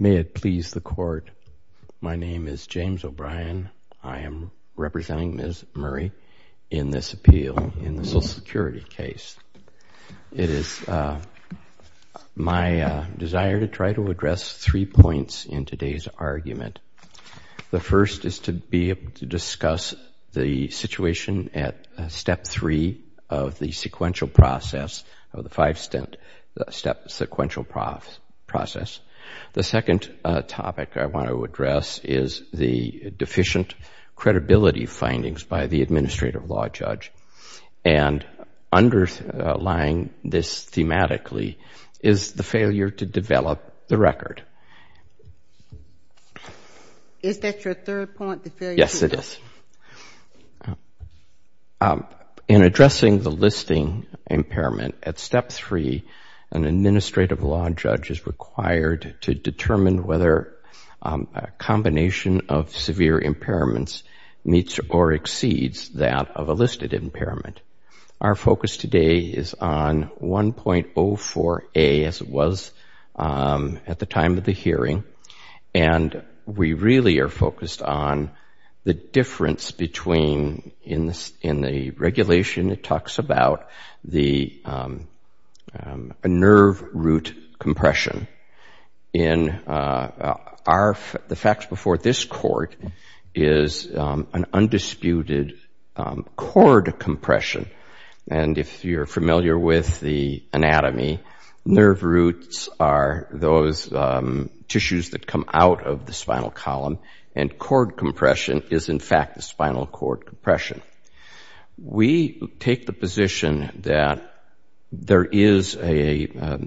May it please the Court, my name is James O'Brien. I am representing Ms. Murray in this appeal in the Social Security case. It is my desire to try to address three points in today's argument. The first is to be able to discuss the situation at step three of the sequential process of the five-step sequential process. The second topic I want to address is the deficient credibility findings by the Administrative Law Judge. And underlying this thematically is the failure to develop the record. Is that your third point? Yes, it is. In addressing the listing impairment at step three, an Administrative Law Judge is required to determine whether a combination of severe impairments meets or exceeds that of a listed impairment. Our focus today is on 1.04A as it was at the time of the hearing. And we really are focused on the difference between, in the regulation it talks about the nerve root compression. The facts before this Court is an undisputed compression. And if you are familiar with the anatomy, nerve roots are those tissues that come out of the spinal column. And cord compression is in fact the spinal cord compression. We take the position that there is a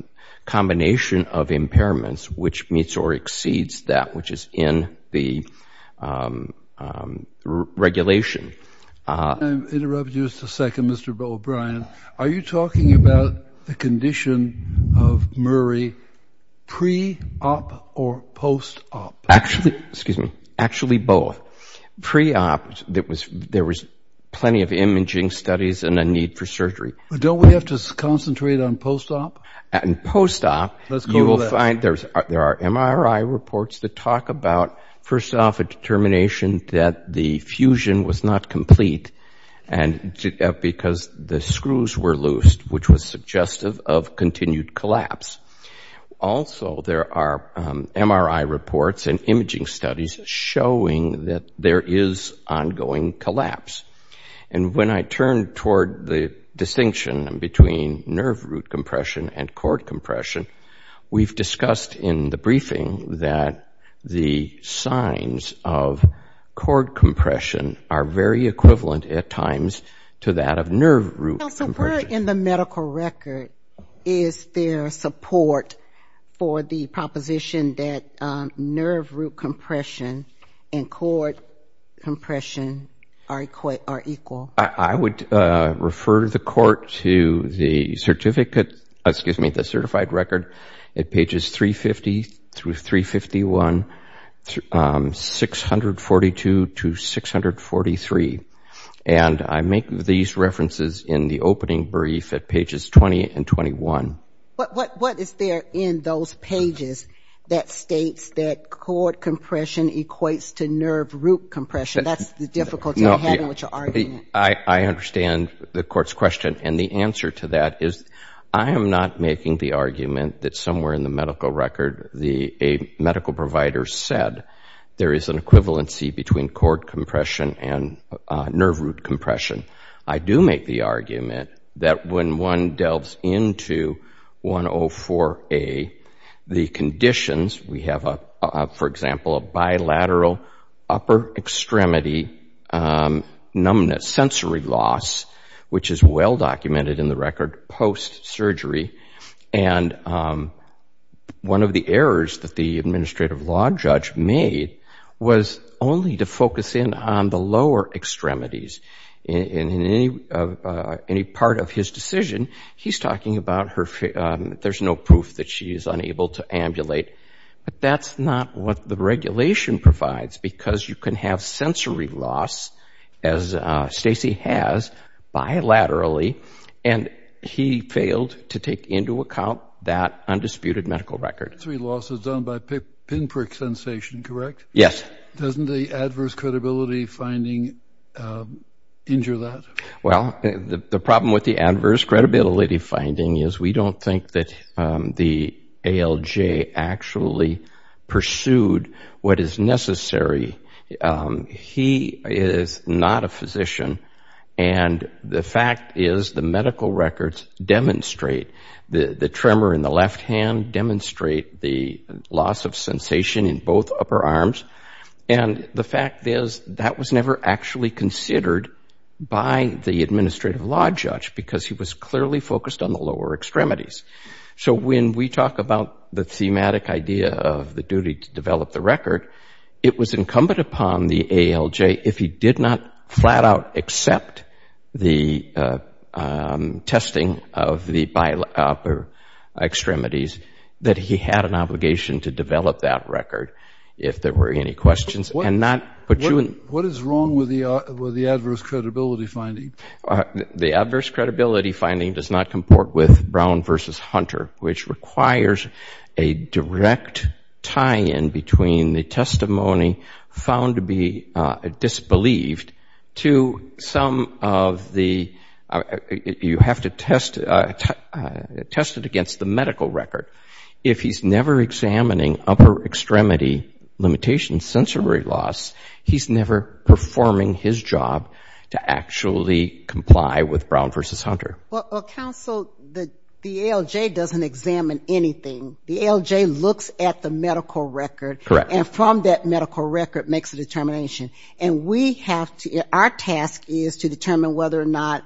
combination of impairments which meets or exceeds that which is in the regulation. I'm going to interrupt you just a second, Mr. O'Brien. Are you talking about the condition of Murray pre-op or post-op? Actually both. Pre-op, there was plenty of imaging studies and a need for surgery. But don't we have to concentrate on post-op? In post-op, you will find there are MRI reports that talk about, first off, a determination that the fusion was not complete because the screws were loosed which was suggestive of continued collapse. Also, there are MRI reports and imaging studies showing that there is ongoing collapse. And when I turn toward the distinction between nerve root compression and cord compression, we've discussed in the briefing that the signs of cord compression are very equivalent at times to that of nerve root compression. Counsel, where in the medical are equal? I would refer the court to the certificate, excuse me, the certified record at pages 350 through 351, 642 to 643. And I make these references in the opening brief at pages 20 and 21. What is there in those pages that states that cord compression equates to nerve root compression? That's the difficulty I have with your argument. I understand the court's question. And the answer to that is I am not making the argument that somewhere in the medical record a medical provider said there is an equivalency between cord compression and nerve root compression. I do make the argument that when one delves into 104A, the lower upper extremity numbness, sensory loss, which is well documented in the record post-surgery, and one of the errors that the administrative law judge made was only to focus in on the lower extremities. In any part of his decision, he's talking about there's no proof that she because you can have sensory loss, as Stacy has, bilaterally, and he failed to take into account that undisputed medical record. Sensory loss is done by pinprick sensation, correct? Yes. Doesn't the adverse credibility finding injure that? Well, the problem with the adverse credibility, he is not a physician, and the fact is the medical records demonstrate the tremor in the left hand, demonstrate the loss of sensation in both upper arms, and the fact is that was never actually considered by the administrative law judge because he was clearly focused on the lower extremities. So when we talk about the thematic idea of the duty to develop the record, it was incumbent upon the ALJ, if he did not flat-out accept the testing of the upper extremities, that he had an obligation to develop that record if there were any questions. What is wrong with the adverse credibility finding? The adverse credibility finding does not comport with Brown v. Hunter, which requires a direct tie-in between the testimony found to be disbelieved to some of the, you have to test it against the medical record. If he's never examining upper extremity limitation sensory loss, he's never performing his job to actually comply with Brown v. Hunter. Well, counsel, the ALJ doesn't examine anything. The ALJ looks at the medical record and from that medical record makes a determination, and we have to, our task is to determine whether or not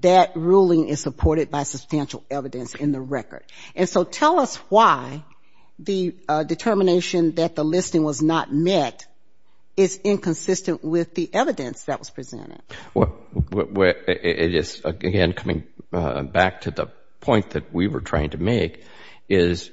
that ruling is supported by substantial evidence in the record. And so tell us why the determination that the Well, it is, again, coming back to the point that we were trying to make, is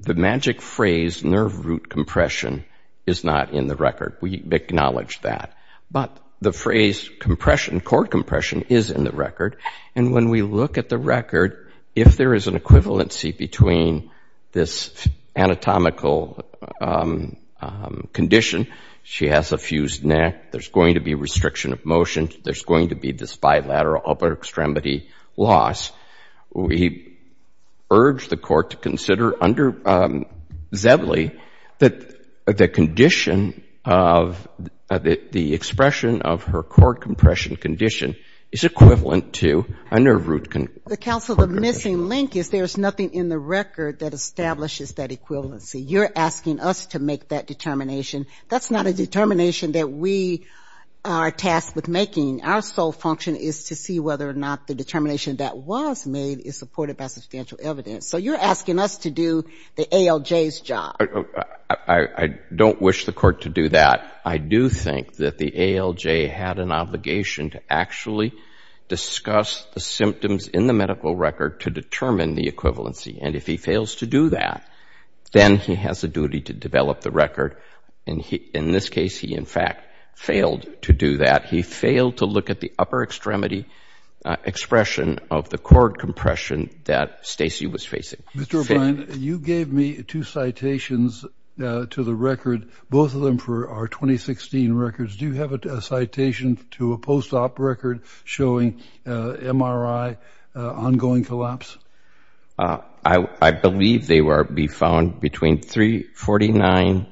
the magic phrase, nerve root compression, is not in the record. We acknowledge that. But the phrase compression, core compression, is in the record. And when we look at the record, if there is an equivalency between this anatomical condition, she has a fused neck, there's going to be restriction of motion, there's going to be this bilateral upper extremity loss, we urge the court to consider under Zedley that the condition of the expression of her core compression condition is equivalent to a nerve root The counsel, the missing link is there's nothing in the record that establishes that equivalency. You're asking us to make that determination. That's not a determination that we are tasked with making. Our sole function is to see whether or not the determination that was made is supported by substantial evidence. So you're asking us to do the ALJ's job. I don't wish the court to do that. I do think that the ALJ had an obligation to actually discuss the issues in the medical record to determine the equivalency. And if he fails to do that, then he has a duty to develop the record. In this case, he in fact failed to do that. He failed to look at the upper extremity expression of the core compression that Stacy was facing. Mr. O'Brien, you gave me two citations to the record, both of them for our 2016 records. Do you have a citation to a post-op record showing MRI ongoing collapse? I believe they will be found between 349,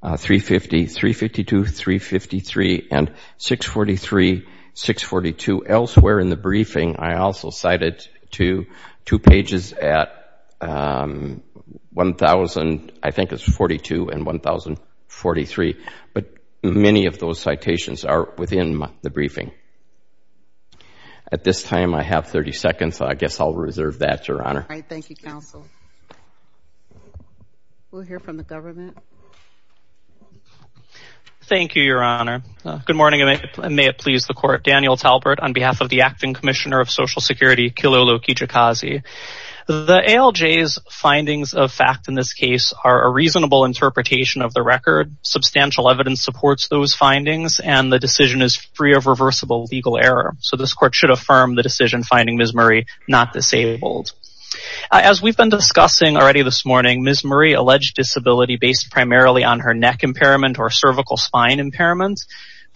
350, 352, 353, and 643, 642. Elsewhere in the briefing, I also cited two pages at 1,000, I think it's 42, and 1,043. But many of those citations are within the briefing. At this time, I have 30 seconds. I guess I'll reserve that, Your Honor. Thank you, counsel. We'll hear from the government. Thank you, Your Honor. Good morning, and may it please the court. Daniel Talbert on behalf of the Acting Commissioner of Social Security, Kilolo Kijikazi. The ALJ's findings of fact in this case are a reasonable interpretation of the record, substantial evidence supports those findings, and the decision is free of reversible legal error. So this court should affirm the decision finding Ms. Murray not disabled. As we've been discussing already this morning, Ms. Murray alleged disability based primarily on her neck impairment or cervical spine impairment.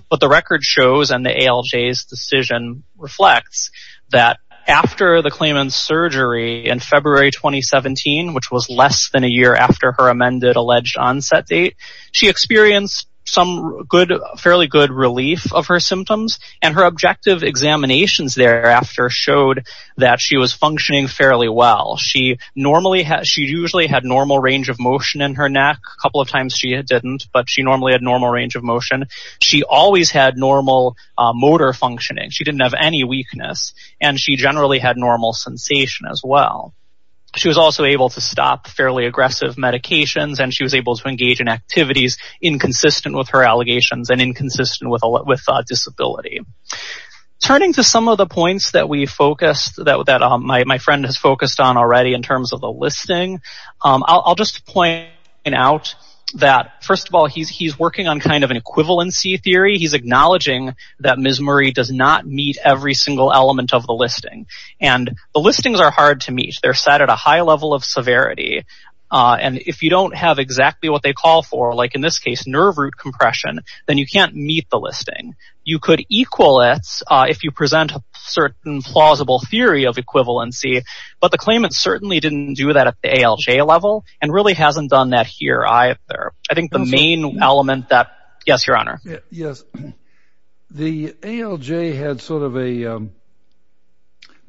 But the record shows, and the ALJ's decision reflects, that after the claimant's surgery in February 2017, which was less than a year after her amended alleged onset date, she experienced some fairly good relief of her symptoms, and her objective examinations thereafter showed that she was functioning fairly well. She usually had normal range of motion in her neck. A couple of times she didn't, but she normally had normal range of motion. She always had normal motor functioning. She didn't have any weakness, and she generally had normal sensation as well. She was also able to stop fairly aggressive medications, and she was able to engage in activities inconsistent with her allegations, and inconsistent with disability. Turning to some of the points that my friend has focused on already in terms of the listing, I'll just point out that, first of all, he's working on kind of an equivalency theory. He's acknowledging that Ms. Murray does not meet every single element of the listing. And the listings are hard to meet. They're set at a high level of severity, and if you don't have exactly what they call for, like in this case nerve root compression, then you can't meet the listing. You could equal it if you present a certain plausible theory of equivalency, but the claimant certainly didn't do that at the ALJ level, and really hasn't done that here either. I think the main element that... Yes, Your Honor. Yes. The ALJ had sort of a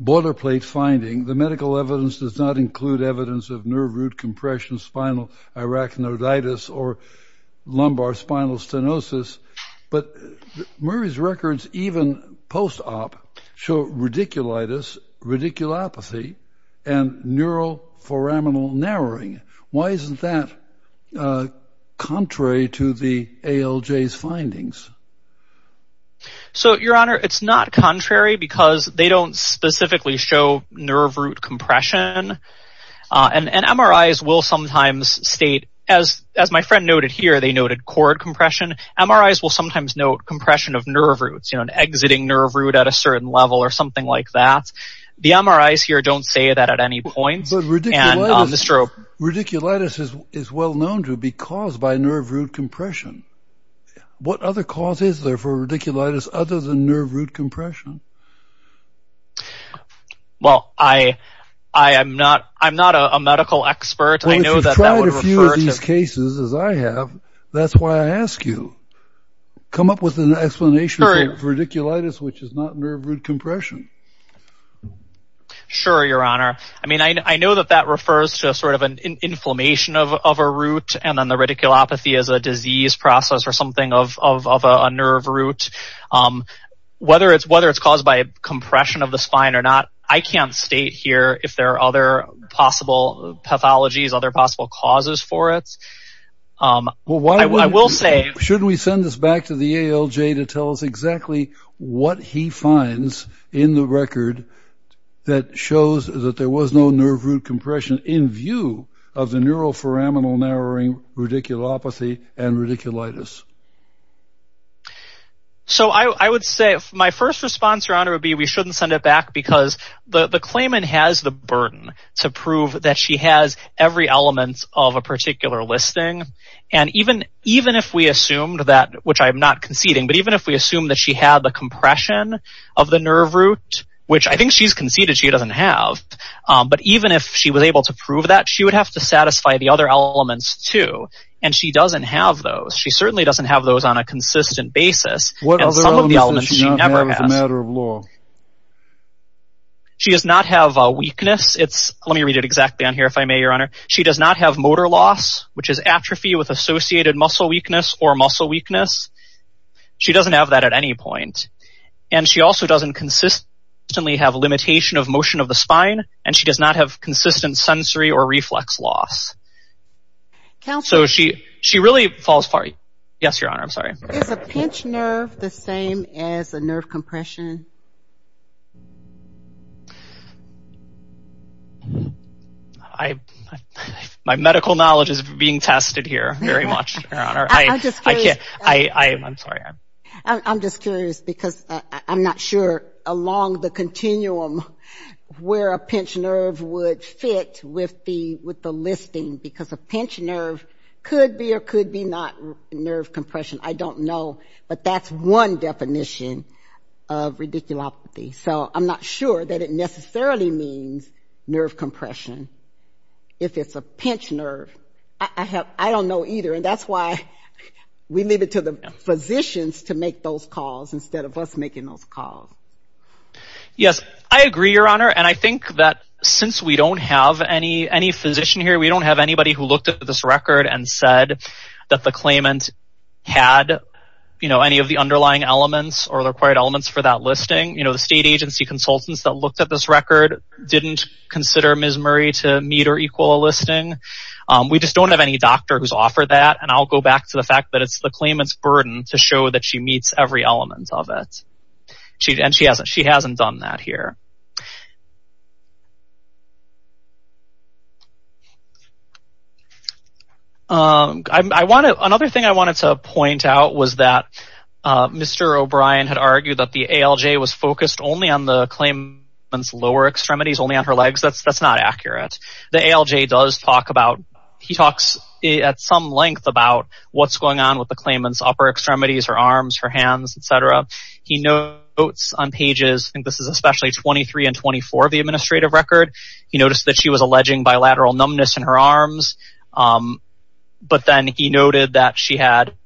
boilerplate finding. The medical evidence does not include evidence of nerve root compression, spinal arachnoditis, or lumbar spinal stenosis, but Murray's records, even post-op, show radiculitis, radiculopathy, and neuroforaminal narrowing. Why isn't that contrary to the ALJ's findings? So, Your Honor, it's not contrary because they don't specifically show nerve root compression, and MRIs will sometimes state, as my friend noted here, they noted cord compression. MRIs will sometimes note compression of nerve roots, you know, an exiting nerve root at a certain level or something like that. The MRIs here don't say that at any point. But radiculitis is well known to be caused by nerve root compression. What other cause is there for radiculitis other than nerve root compression? Well, I am not a medical expert. Well, if you've tried a few of these cases, as I have, that's why I ask you. Come up with an explanation for radiculitis, which is not nerve root compression. Sure, Your Honor. I mean, I know that that refers to sort of an inflammation of a root, and then the radiculopathy is a disease process or something of a nerve root. Whether it's caused by compression of the spine or not, I can't state here if there are other possible pathologies, other possible causes for it. I will say... Shouldn't we send this back to the ALJ to tell us exactly what he finds in the record that shows that there was no nerve root compression in view of the neuroforaminal-narrowing radiculopathy and radiculitis? So I would say my first response, Your Honor, would be we shouldn't send it back because the claimant has the burden to prove that she has every element of a particular listing. And even if we assumed that, which I am not conceding, but even if we assumed that she had the compression of the nerve root, which I think she's conceded she doesn't have, but even if she was able to prove that, she would have to satisfy the other elements too. And she doesn't have those. She certainly doesn't have those on a consistent basis. What other elements does she not have as a matter of law? She does not have weakness. Let me read it exactly on here if I may, Your Honor. She does not have motor loss, which is atrophy with associated muscle weakness or muscle weakness. She doesn't have that at any point. And she also doesn't consistently have limitation of motion of the spine, and she does not have consistent sensory or reflex loss. Counselor... So she really falls far... Yes, Your Honor, I'm sorry. Is a pinched nerve the same as a nerve compression? My medical knowledge is being tested here very much, Your Honor. I'm just curious... I'm sorry. I'm just curious because I'm not sure along the continuum where a pinched nerve would fit with the listing because a pinched nerve could be or could be not nerve compression. I don't know, but that's one definition of radiculopathy. So I'm not sure that it necessarily means nerve compression. If it's a pinched nerve, I don't know either, and that's why we leave it to the physicians to make those calls instead of us making those calls. Yes, I agree, Your Honor, and I think that since we don't have any physician here, we don't have anybody who looked at this record and said that the claimant had any of the underlying elements or the required elements for that listing. The state agency consultants that looked at this record didn't consider Ms. Murray to meet or equal a listing. We just don't have any doctor who's offered that, and I'll go back to the fact that it's the claimant's burden to show that she meets every element of it, and she hasn't done that here. Another thing I wanted to point out was that Mr. O'Brien had argued that the ALJ was focused only on the claimant's lower extremities, only on her legs. That's not accurate. The ALJ does talk at some length about what's going on with the claimant's upper extremities, her arms, her hands, et cetera. He notes on pages, I think this is especially 23 and 24 of the administrative record, he noticed that she was alleging bilateral numbness in her arms. But then he noted afterwards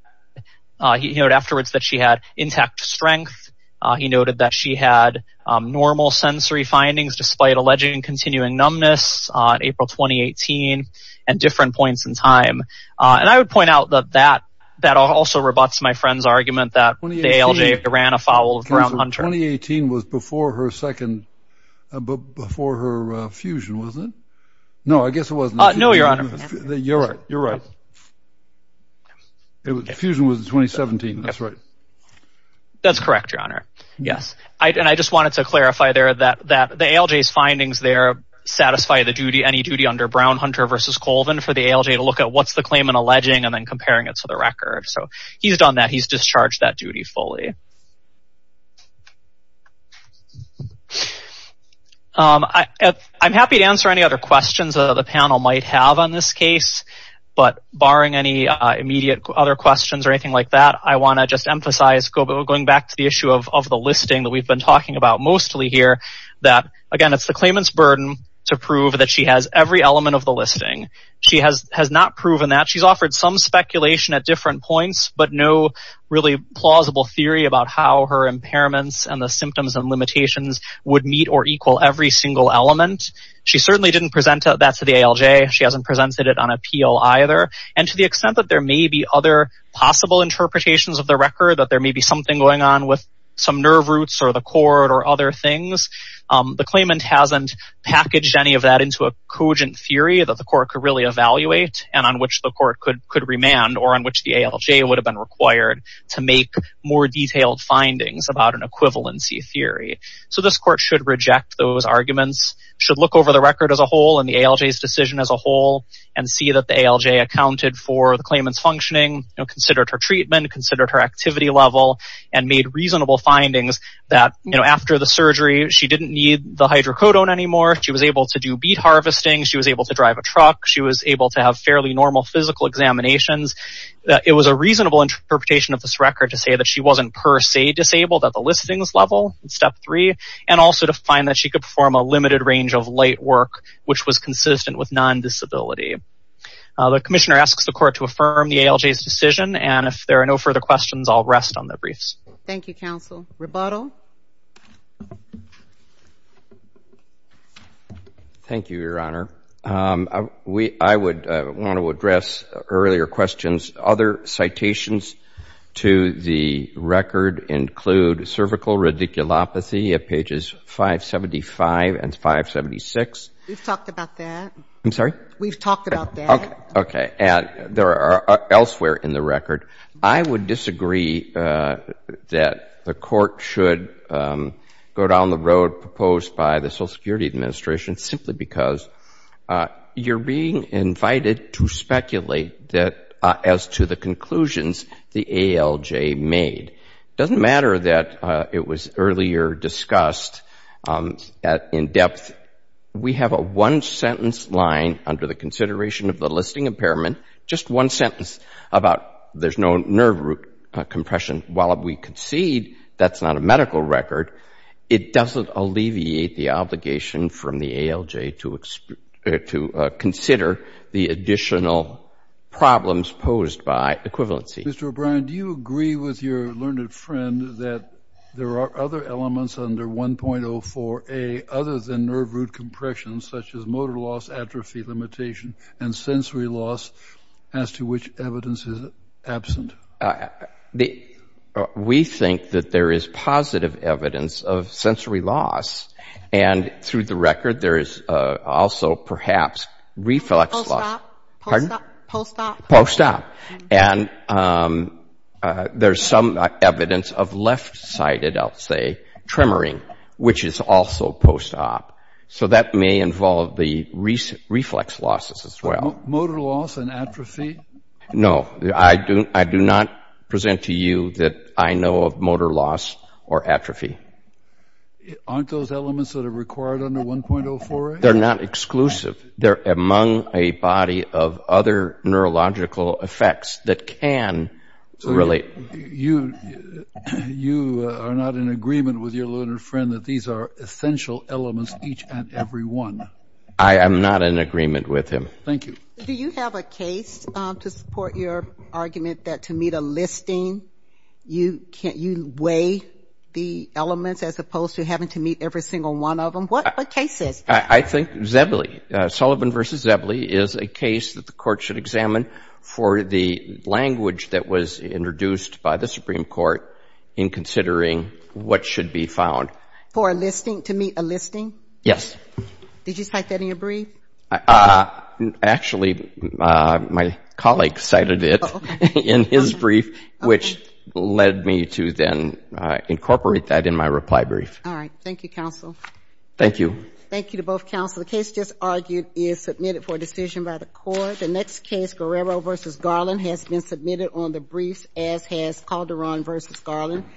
that she had intact strength. He noted that she had normal sensory findings despite alleging continuing numbness on April 2018 and different points in time. And I would point out that that also rebuts my friend's argument that the ALJ ran afoul of Brown-Hunter. So 2018 was before her fusion, wasn't it? No, I guess it wasn't. No, Your Honor. You're right, you're right. The fusion was in 2017, that's right. That's correct, Your Honor, yes. And I just wanted to clarify there that the ALJ's findings there satisfy any duty under Brown-Hunter versus Colvin for the ALJ to look at what's the claimant alleging and then comparing it to the record. So he's done that. He's discharged that duty fully. Okay. I'm happy to answer any other questions the panel might have on this case, but barring any immediate other questions or anything like that, I want to just emphasize, going back to the issue of the listing that we've been talking about mostly here, that, again, it's the claimant's burden to prove that she has every element of the listing. She has not proven that. She's offered some speculation at different points, but no really plausible theory about how her impairments and the symptoms and limitations would meet or equal every single element. She certainly didn't present that to the ALJ. She hasn't presented it on appeal either. And to the extent that there may be other possible interpretations of the record, that there may be something going on with some nerve roots or the cord or other things, the claimant hasn't packaged any of that into a cogent theory that the court could really evaluate and on which the court could remand or on which the ALJ would have been required to make more detailed findings about an equivalency theory. So this court should reject those arguments, should look over the record as a whole and the ALJ's decision as a whole and see that the ALJ accounted for the claimant's functioning, considered her treatment, considered her activity level, and made reasonable findings that after the surgery, she didn't need the hydrocodone anymore. She was able to do beet harvesting. She was able to drive a truck. She was able to have fairly normal physical examinations. It was a reasonable interpretation of this record to say that she wasn't per se disabled at the listings level in Step 3 and also to find that she could perform a limited range of light work, which was consistent with non-disability. The commissioner asks the court to affirm the ALJ's decision, and if there are no further questions, I'll rest on the briefs. Thank you, counsel. Rebuttal? Thank you, Your Honor. I would want to address earlier questions. Other citations to the record include cervical radiculopathy at pages 575 and 576. We've talked about that. I'm sorry? We've talked about that. Okay. And there are elsewhere in the record. I would disagree that the court should go down the road proposed by the Social Security Administration simply because you're being invited to speculate as to the conclusions the ALJ made. It doesn't matter that it was earlier discussed in depth. We have a one-sentence line under the consideration of the listing impairment, just one sentence about there's no nerve root compression. While we concede that's not a medical record, it doesn't alleviate the obligation from the ALJ to consider the additional problems posed by equivalency. Mr. O'Brien, do you agree with your learned friend that there are other elements under 1.04a other than nerve root compression, such as motor loss, atrophy limitation, and sensory loss, as to which evidence is absent? We think that there is positive evidence of sensory loss, and through the record there is also perhaps reflex loss. Post-op. Pardon? Post-op. Post-op. And there's some evidence of left-sided, I'll say, tremoring, which is also post-op. So that may involve the reflex losses as well. Motor loss and atrophy? No. I do not present to you that I know of motor loss or atrophy. Aren't those elements that are required under 1.04a? They're not exclusive. They're among a body of other neurological effects that can relate. You are not in agreement with your learned friend that these are essential elements each and every one. I am not in agreement with him. Thank you. Do you have a case to support your argument that to meet a listing, you weigh the elements as opposed to having to meet every single one of them? What case is that? I think Zebley, Sullivan v. Zebley, is a case that the Court should examine for the language that was introduced by the Supreme Court in considering what should be found. For a listing, to meet a listing? Yes. Did you cite that in your brief? Actually, my colleague cited it in his brief, which led me to then incorporate that in my reply brief. All right. Thank you, counsel. Thank you. Thank you to both counsel. The case just argued is submitted for decision by the Court. The next case, Guerrero v. Garland, has been submitted on the briefs as has Calderon v. Garland.